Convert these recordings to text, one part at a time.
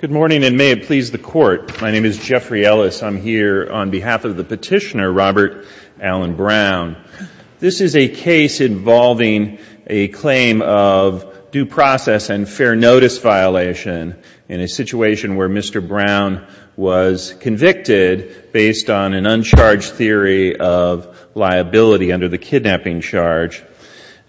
Good morning, and may it please the Court. My name is Jeffrey Ellis. I'm here on behalf of the petitioner, Robert Allen Brown. This is a case involving a claim of due process and fair notice violation in a situation where Mr. Brown was convicted based on an uncharged theory of liability under the kidnapping charge.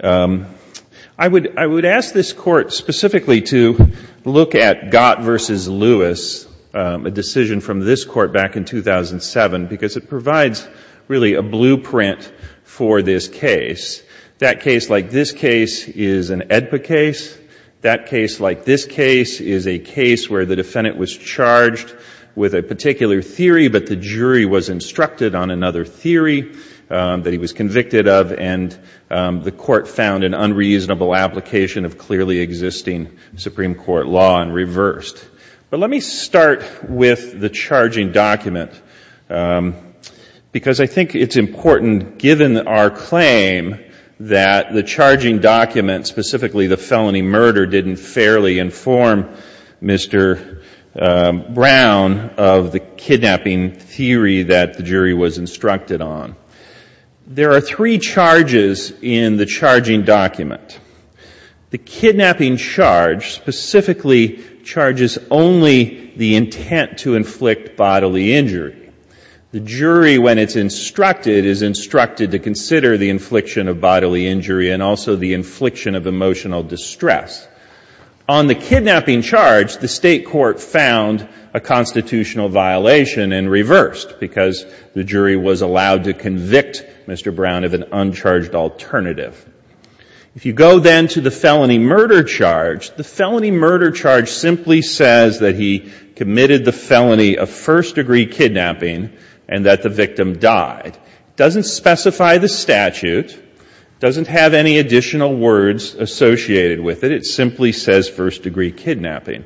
I would ask this Court specifically to look at Gott v. Lewis, a decision from this Court back in 2007, because it provides really a blueprint for this case. That case, like this case, is an AEDPA case. That case, like this case, is a case where the defendant was charged with a particular theory, but the jury was instructed on another theory that he was convicted of, and the Court found an unreasonable application of clearly existing Supreme Court law and reversed. But let me start with the charging document, because I think it's important, given our claim, that the charging document, specifically the felony murder, didn't fairly inform Mr. Brown of the kidnapping theory that the jury was instructed on. There are three charges in the charging document. The kidnapping charge specifically charges only the intent to inflict bodily injury. The jury, when it's instructed, is instructed to consider the infliction of bodily injury and also the infliction of emotional distress. On the kidnapping charge, the State Court found a constitutional violation and reversed, because the jury was allowed to convict Mr. Brown of an uncharged alternative. If you go, then, to the felony murder charge, the felony murder charge simply says that he committed the felony of first-degree kidnapping and that the victim died. It doesn't specify the statute. It doesn't have any additional words associated with it. It simply says first-degree kidnapping.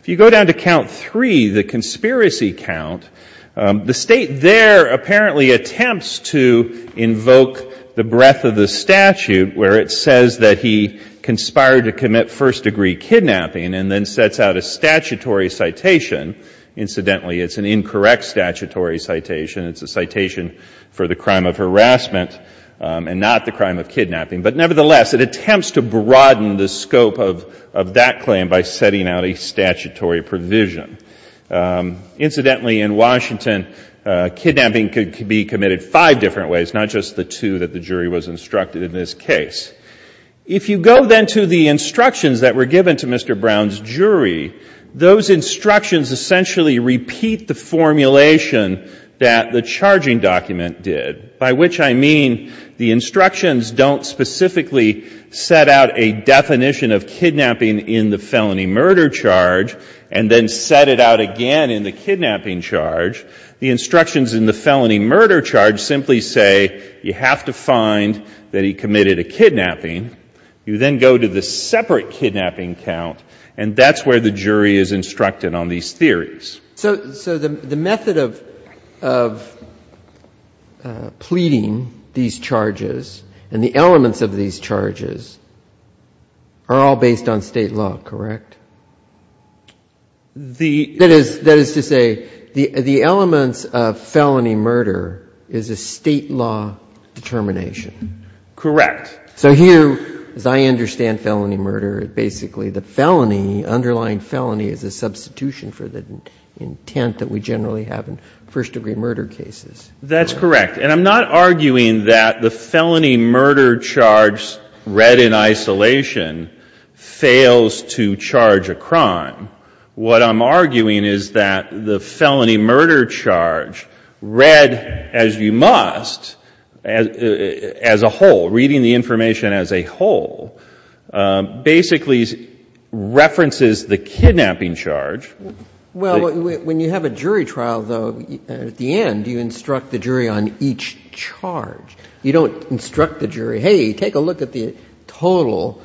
If you go down to count three, the conspiracy count, the State there apparently attempts to invoke the breadth of the statute where it says that he conspired to commit first-degree kidnapping and then sets out a statutory citation. Incidentally, it's an incorrect statutory citation. It's a citation for the crime of harassment and not the crime of kidnapping. But nevertheless, it attempts to broaden the scope of that claim by setting out a statutory provision. Incidentally, in Washington, kidnapping could be committed five different ways, not just the two that the jury was instructed in this case. If you go, then, to the instructions that were given to Mr. Brown's jury, those instructions essentially repeat the formulation that the charging document did, by which I mean the jury specifically set out a definition of kidnapping in the felony murder charge and then set it out again in the kidnapping charge. The instructions in the felony murder charge simply say you have to find that he committed a kidnapping. You then go to the separate kidnapping count, and that's where the jury is instructed on these theories. So the method of pleading these charges and the elements of these charges are all based on State law, correct? That is to say, the elements of felony murder is a State law determination. Correct. So here, as I understand felony murder, basically the felony, the underlying felony is a substitution for the intent that we generally have in first degree murder cases. That's correct. And I'm not arguing that the felony murder charge read in isolation fails to charge a crime. What I'm arguing is that the felony murder charge read as you the kidnapping charge. Well, when you have a jury trial, though, at the end, you instruct the jury on each charge. You don't instruct the jury, hey, take a look at the total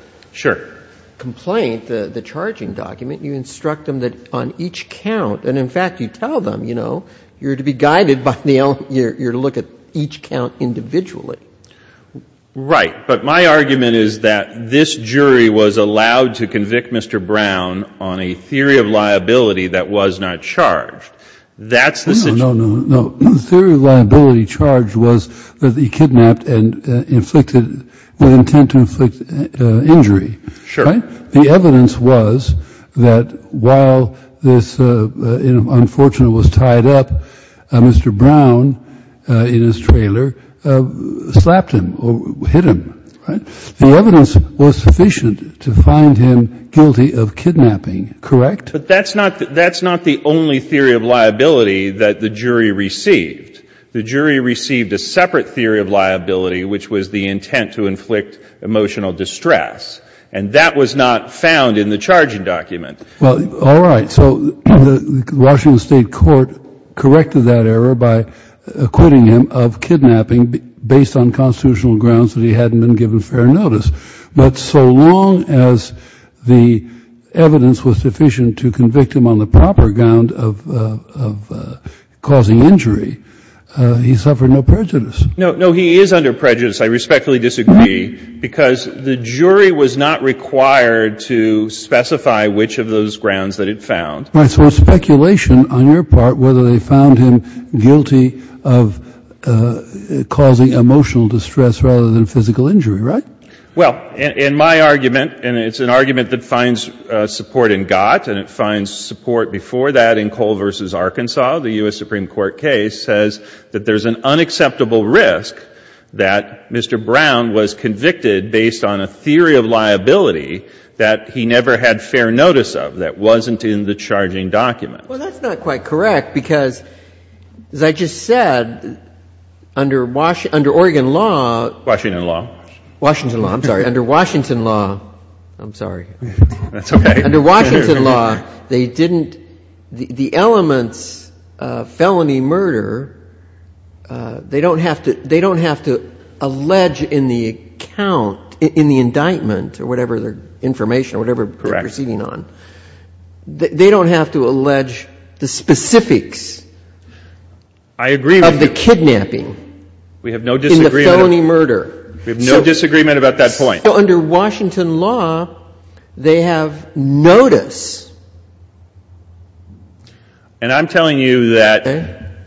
complaint, the charging document. You instruct them that on each count, and, in fact, you tell them, you know, you're to be guided by the element, you're to look at each count individually. Right. But my argument is that this jury was allowed to convict Mr. Brown on a theory of liability that was not charged. That's the situation. No, no, no. The theory of liability charged was that he kidnapped and inflicted the intent to inflict injury. Sure. Right? The evidence was that while this unfortunate was tied up, Mr. Brown, in his mind, slapped him or hit him. Right? The evidence was sufficient to find him guilty of kidnapping. Correct? But that's not the only theory of liability that the jury received. The jury received a separate theory of liability, which was the intent to inflict emotional distress. And that was not found in the charging document. Well, all right. So the Washington State court corrected that error by acquitting him of kidnapping based on constitutional grounds that he hadn't been given fair notice. But so long as the evidence was sufficient to convict him on the proper ground of causing injury, he suffered no prejudice. No. No, he is under prejudice. I respectfully disagree. Because the jury was not required to specify which of those grounds that it found. Right. So it's speculation on your part whether they found him guilty of causing emotional distress rather than physical injury. Right? Well, in my argument, and it's an argument that finds support in Gott, and it finds support before that in Cole v. Arkansas, the U.S. Supreme Court case says that there is an unacceptable risk that Mr. Brown was convicted based on a theory of liability that he never had fair notice of, that wasn't in the charging document. Well, that's not quite correct because, as I just said, under Oregon law — Washington law. Washington law. I'm sorry. Under Washington law — I'm sorry. That's okay. Under Washington law, they didn't — the elements of felony murder, they don't have to allege in the account, in the indictment or whatever their information or whatever they're proceeding on. Correct. They don't have to allege the specifics — I agree with you. — of the kidnapping. We have no disagreement — In the felony murder. We have no disagreement about that point. So under Washington law, they have notice — And I'm telling you that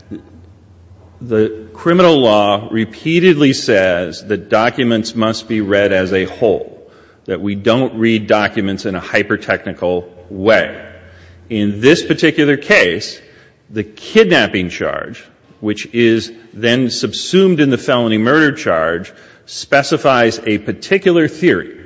the criminal law repeatedly says that documents must be read as a whole, that we don't read documents in a hyper-technical way. In this particular case, the kidnapping charge, which is then subsumed in the felony murder charge, specifies a particular theory.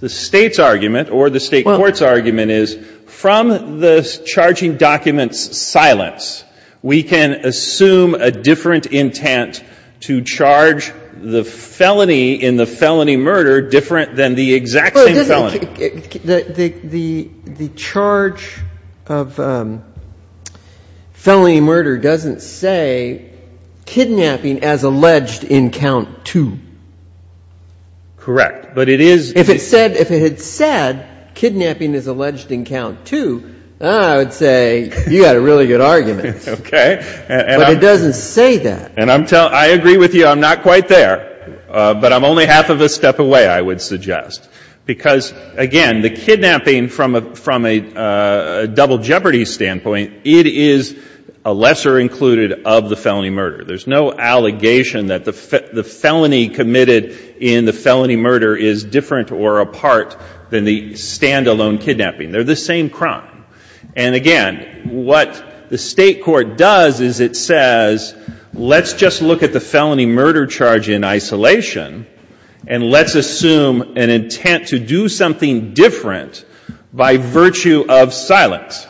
The State's argument, or the State court's argument, is from the charging document's silence, we can assume a different intent to charge the felony in the felony murder different than the exact same felony. The charge of felony murder doesn't say kidnapping as alleged in count two. Correct. But it is — If it said kidnapping as alleged in count two, I would say you've got a really good argument. Okay. But it doesn't say that. And I agree with you, I'm not quite there. But I'm only half of a step away, I would suggest. Because, again, the kidnapping from a double jeopardy standpoint, it is a lesser included of the felony murder. There's no allegation that the felony committed in the felony murder is different or apart than the stand-alone kidnapping. They're the same crime. And, again, what the State court does is it says, let's just look at the felony murder charge in isolation, and let's assume an intent to do something different by virtue of silence,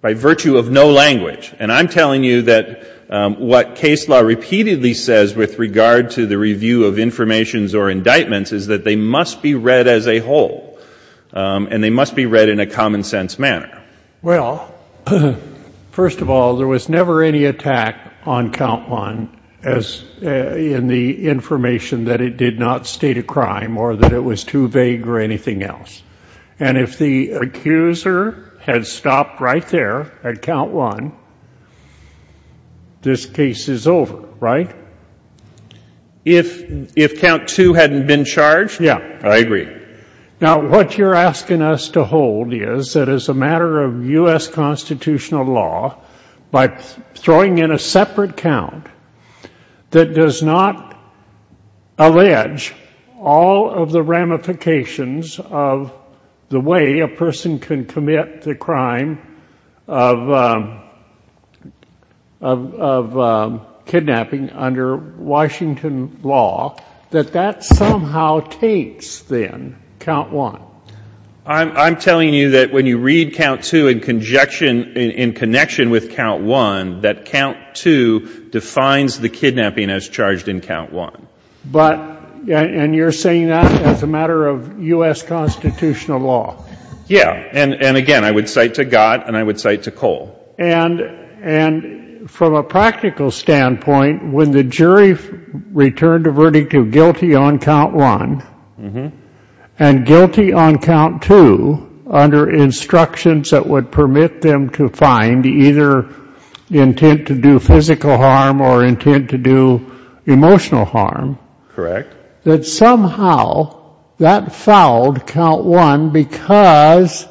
by virtue of no language. And I'm telling you that what case law repeatedly says with regard to the review of information or indictments is that they must be read as a whole. And they must be read in a common-sense manner. Well, first of all, there was never any attack on count one in the information that it did not state a crime or that it was too vague or anything else. And if the accuser had stopped right there at count one, this case is over, right? If count two hadn't been charged? Yeah. I agree. Now, what you're asking us to hold is that as a matter of U.S. constitutional law, by throwing in a separate count that does not allege all of the way a person can commit the crime of kidnapping under Washington law, that that somehow takes, then, count one. I'm telling you that when you read count two in connection with count one, that count two defines the kidnapping as charged in count one. And you're saying that as a matter of U.S. constitutional law? Yeah. And again, I would cite to Gott and I would cite to Cole. And from a practical standpoint, when the jury returned a verdict of guilty on count one and guilty on count two under instructions that would permit them to find either intent to do physical harm or intent to do emotional harm, that somehow that fouled count one because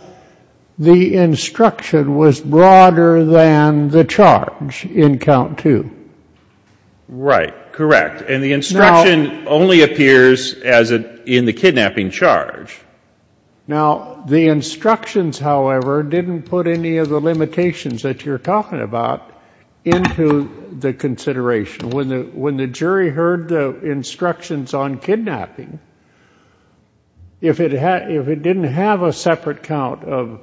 the instruction was broader than the charge in count two. Right. Correct. And the instruction only appears in the kidnapping charge. Now, the instructions, however, didn't put any of the limitations that you're talking about into the consideration. When the jury heard the instructions on kidnapping, if it didn't have a separate count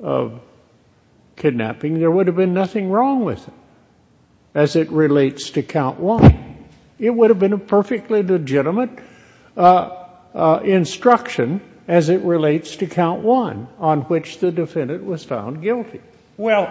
of kidnapping, there would have been nothing wrong with it as it relates to count one. It would have been a perfectly legitimate instruction as it relates to count one on which the defendant was found guilty. Well,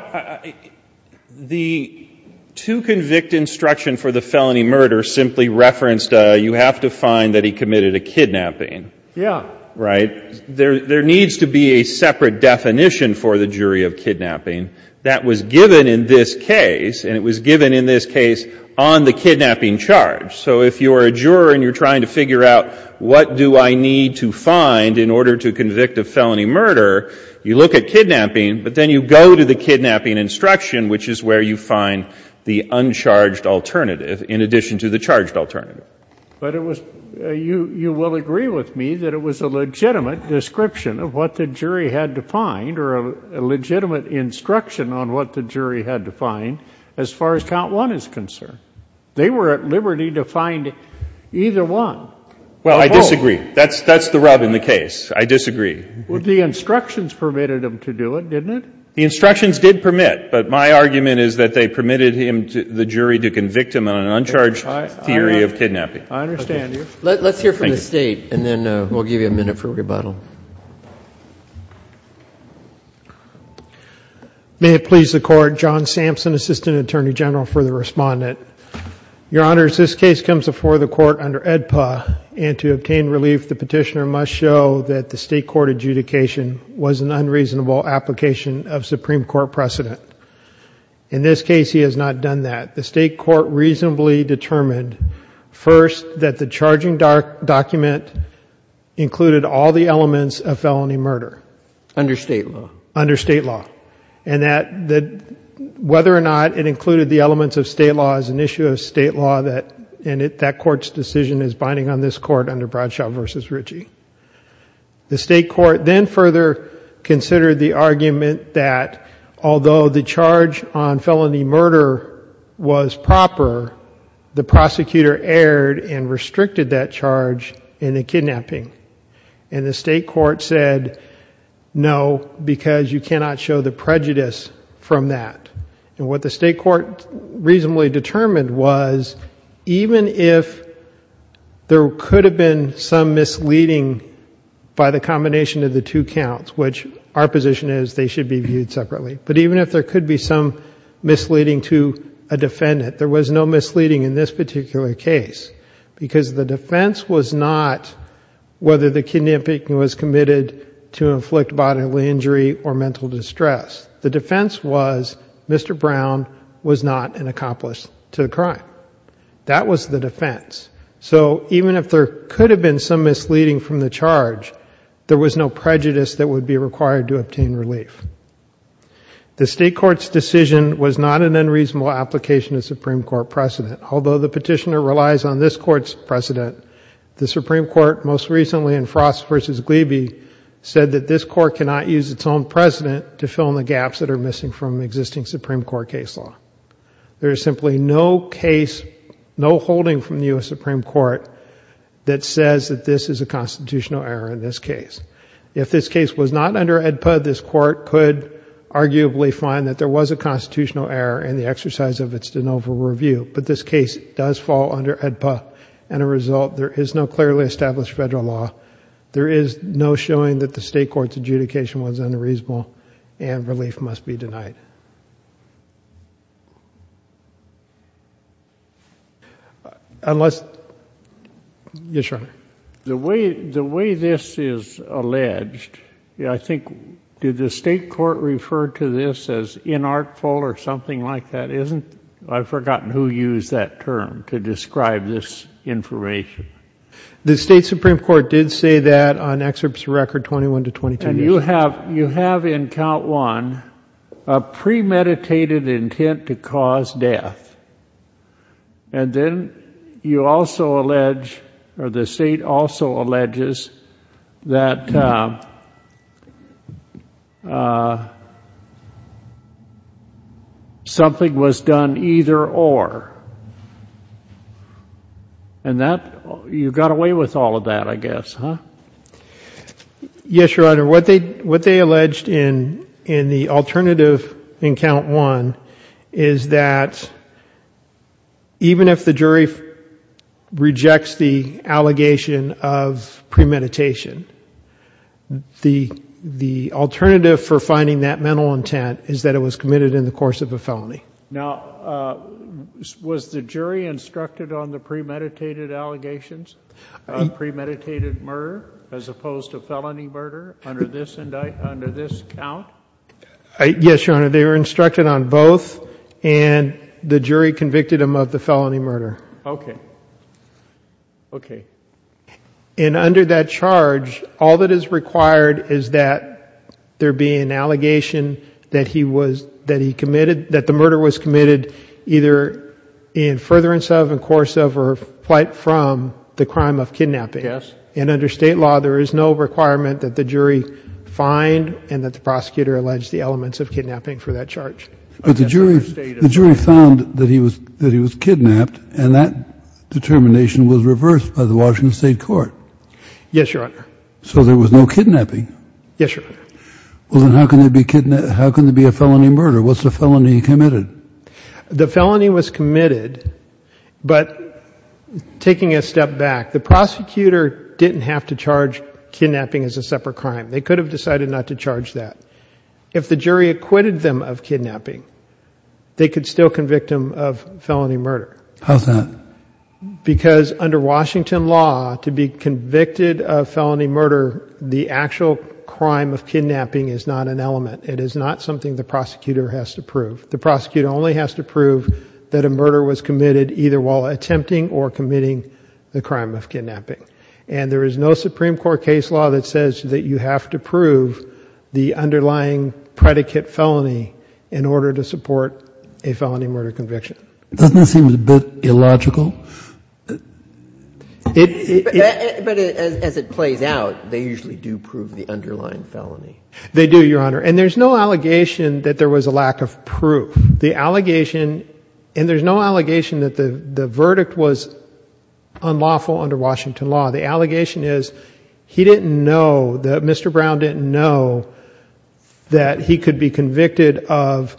the two-convict instruction for the felony murder simply referenced you have to find that he committed a kidnapping. Yeah. Right? There needs to be a separate definition for the jury of kidnapping that was given in this case, and it was given in this case on the kidnapping charge. So if you're a juror and you're trying to figure out what do I need to find in order to convict a felony murder, you look at kidnapping, but then you go to the kidnapping instruction, which is where you find the uncharged alternative in addition to the charged alternative. But it was you will agree with me that it was a legitimate description of what the jury had to find or a legitimate instruction on what the jury had to find as far as count one is concerned. They were at liberty to find either one. Well, I disagree. That's the rub in the case. I disagree. Well, the instructions permitted them to do it, didn't it? The instructions did permit, but my argument is that they permitted the jury to convict him on an uncharged theory of kidnapping. I understand you. Let's hear from the State, and then we'll give you a minute for rebuttal. May it please the Court. John Sampson, Assistant Attorney General for the Respondent. Your Honors, this case comes before the Court under AEDPA, and to obtain relief, the Petitioner must show that the State Court adjudication was an unreasonable application of Supreme Court precedent. In this case, he has not done that. The State Court reasonably determined first that the charging document included all the elements of felony murder. Under State law? Under State law, and that whether or not it included the elements of State law is an issue of State law, and that Court's decision is binding on this Court under Bradshaw v. Ritchie. The State Court then further considered the argument that although the charge on felony murder was proper, the prosecutor erred and restricted that charge in the case, and the State Court said, no, because you cannot show the prejudice from that. What the State Court reasonably determined was even if there could have been some misleading by the combination of the two counts, which our position is they should be viewed separately, but even if there could be some misleading to a defendant, there was no misleading in this particular case, because the defense was not whether the kidnapping was committed to inflict bodily injury or mental distress. The defense was Mr. Brown was not an accomplice to the crime. That was the defense. So even if there could have been some misleading from the charge, there was no prejudice that would be required to obtain relief. The State Court's decision was not an unreasonable application of Supreme Court precedent, although the petitioner relies on this Court's precedent. The Supreme Court most recently in Frost v. Glebe said that this Court cannot use its own precedent to fill in the gaps that are missing from existing Supreme Court case law. There is simply no case, no holding from the U.S. Supreme Court that says that this is a constitutional error in this case. If this case was not under AEDPA, this Court could arguably find that there was a constitutional error in the exercise of its de novo review, but this case does fall under AEDPA. As a result, there is no clearly established federal law. There is no showing that the State Court's adjudication was unreasonable, and relief must be denied. Unless... Yes, Your Honor. The way this is alleged, I think, did the State Court refer to this as inartful or something like that? I've forgotten who used that term to describe this information. The State Supreme Court did say that on excerpts of record 21 to 22. And you have in count one a premeditated intent to cause death. And then you also allege, or the State also alleges, that something was done either or. And you got away with all of that, I guess, huh? Yes, Your Honor. What they alleged in the alternative in count one is that even if the jury rejects the allegation of premeditation, the alternative for finding that mental intent is that it was committed in the course of a felony. Now, was the jury instructed on the premeditated allegations of premeditated murder as opposed to felony murder under this count? Yes, Your Honor. They were instructed on both, and the jury convicted them of the felony murder. Okay. And under that charge, all that is required is that there be an allegation that the murder was committed either in furtherance of, in course of, or quite from the crime of kidnapping. Yes. And under State law, there is no requirement that the jury find and that the prosecutor allege the elements of kidnapping for that charge. But the jury found that he was kidnapped, and that determination was reversed by the Washington State court. Yes, Your Honor. So there was no kidnapping? Yes, Your Honor. Well, then how can there be a felony murder? What's the felony committed? The felony was committed, but taking a step back, the prosecutor didn't have to charge kidnapping as a separate crime. They could have decided not to charge that. If the jury acquitted them of kidnapping, they could still convict them of felony murder. How's that? Because under Washington law, to be convicted of felony murder, the actual crime of kidnapping is not an element. It is not something the prosecutor has to prove. The prosecutor only has to prove that a murder was committed either while attempting or committing the crime of kidnapping. And there is no Supreme Court case law that says that you have to prove the underlying predicate felony in order to support a felony murder conviction. Doesn't that seem a bit illogical? But as it plays out, they usually do prove the underlying felony. They do, Your Honor. And there's no allegation that there was a lack of proof. The allegation, and there's no allegation that the verdict was unlawful under Washington law. The allegation is he didn't know, Mr. Brown didn't know that he could be convicted of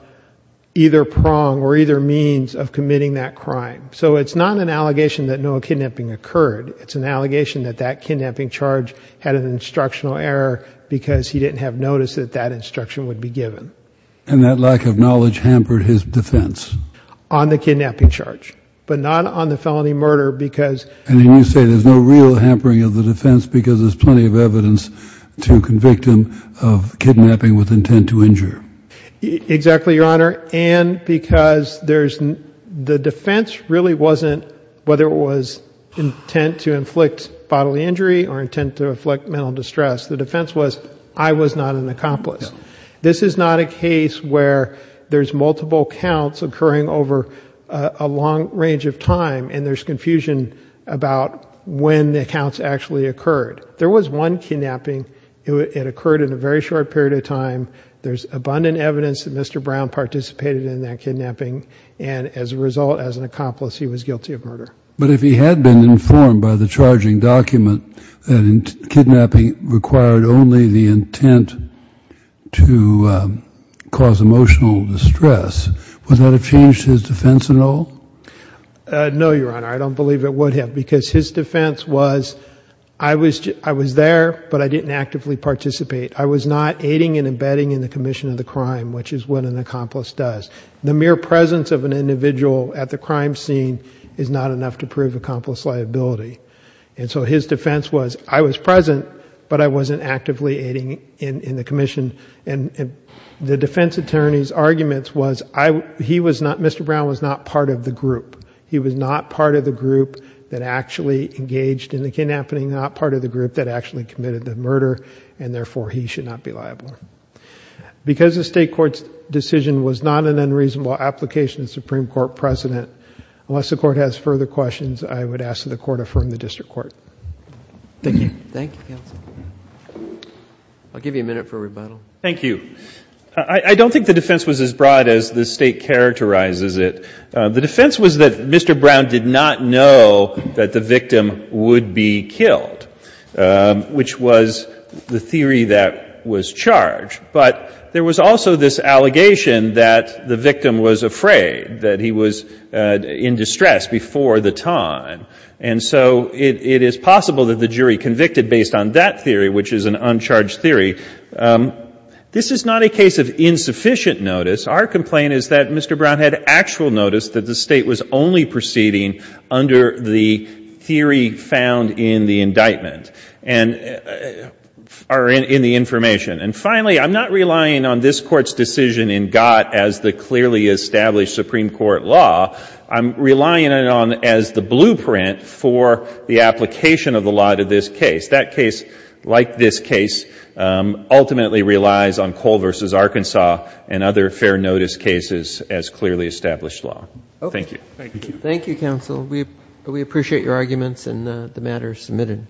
either prong or either means of committing that crime. So it's not an allegation that no kidnapping occurred. It's an allegation that that kidnapping charge had an instructional error because he didn't have notice that that instruction would be given. And that lack of knowledge hampered his defense? On the kidnapping charge. But not on the felony murder because... And then you say there's no real hampering of the defense because there's plenty of evidence to convict him of kidnapping with intent to injure. Exactly, Your Honor. And because the defense really wasn't whether it was intent to inflict bodily injury or intent to inflict mental distress. The defense was I was not an accomplice. This is not a case where there's multiple counts occurring over a long range of time and there's confusion about when the counts actually occurred. There was one kidnapping. It occurred in a very short period of time. There's abundant evidence that Mr. Brown participated in that kidnapping. And as a result, as an accomplice, he was guilty of murder. But if he had been informed by the charging document that kidnapping required only the intent to cause emotional distress, would that have changed his defense at all? No, Your Honor. I don't believe it would have because his defense was I was there, but I didn't actively participate. I was not aiding and abetting in the commission of the crime, which is what an accomplice does. The mere presence of an individual at the crime scene is not enough to prove accomplice liability. And so his defense was I was present, but I wasn't actively aiding in the commission. And the defense attorney's arguments was he was not, Mr. Brown was not part of the group. He was not part of the group that actually engaged in the kidnapping, not part of the group that actually committed the murder, and therefore he should not be liable. Because the state court's decision was not an unreasonable application of Supreme Court precedent, unless the court has further questions, I would ask that the court affirm the district court. Thank you. Thank you, counsel. I'll give you a minute for rebuttal. Thank you. I don't think the defense was as broad as the state characterizes it. The defense was that Mr. Brown did not know that the victim would be killed, which was the theory that was charged. But there was also this allegation that the victim was afraid, that he was in distress before the time. And so it is possible that the jury convicted based on that theory, which is an uncharged theory. This is not a case of insufficient notice. Our complaint is that Mr. Brown had actual notice that the State was only proceeding under the theory found in the indictment, or in the information. And finally, I'm not relying on this Court's decision in Gott as the clearly established Supreme Court law. I'm relying on it as the blueprint for the application of the law to this case. That case, like this case, ultimately relies on Cole v. Arkansas and other fair notice cases as clearly established law. Thank you. Thank you. Thank you, counsel. We appreciate your arguments and the matters submitted.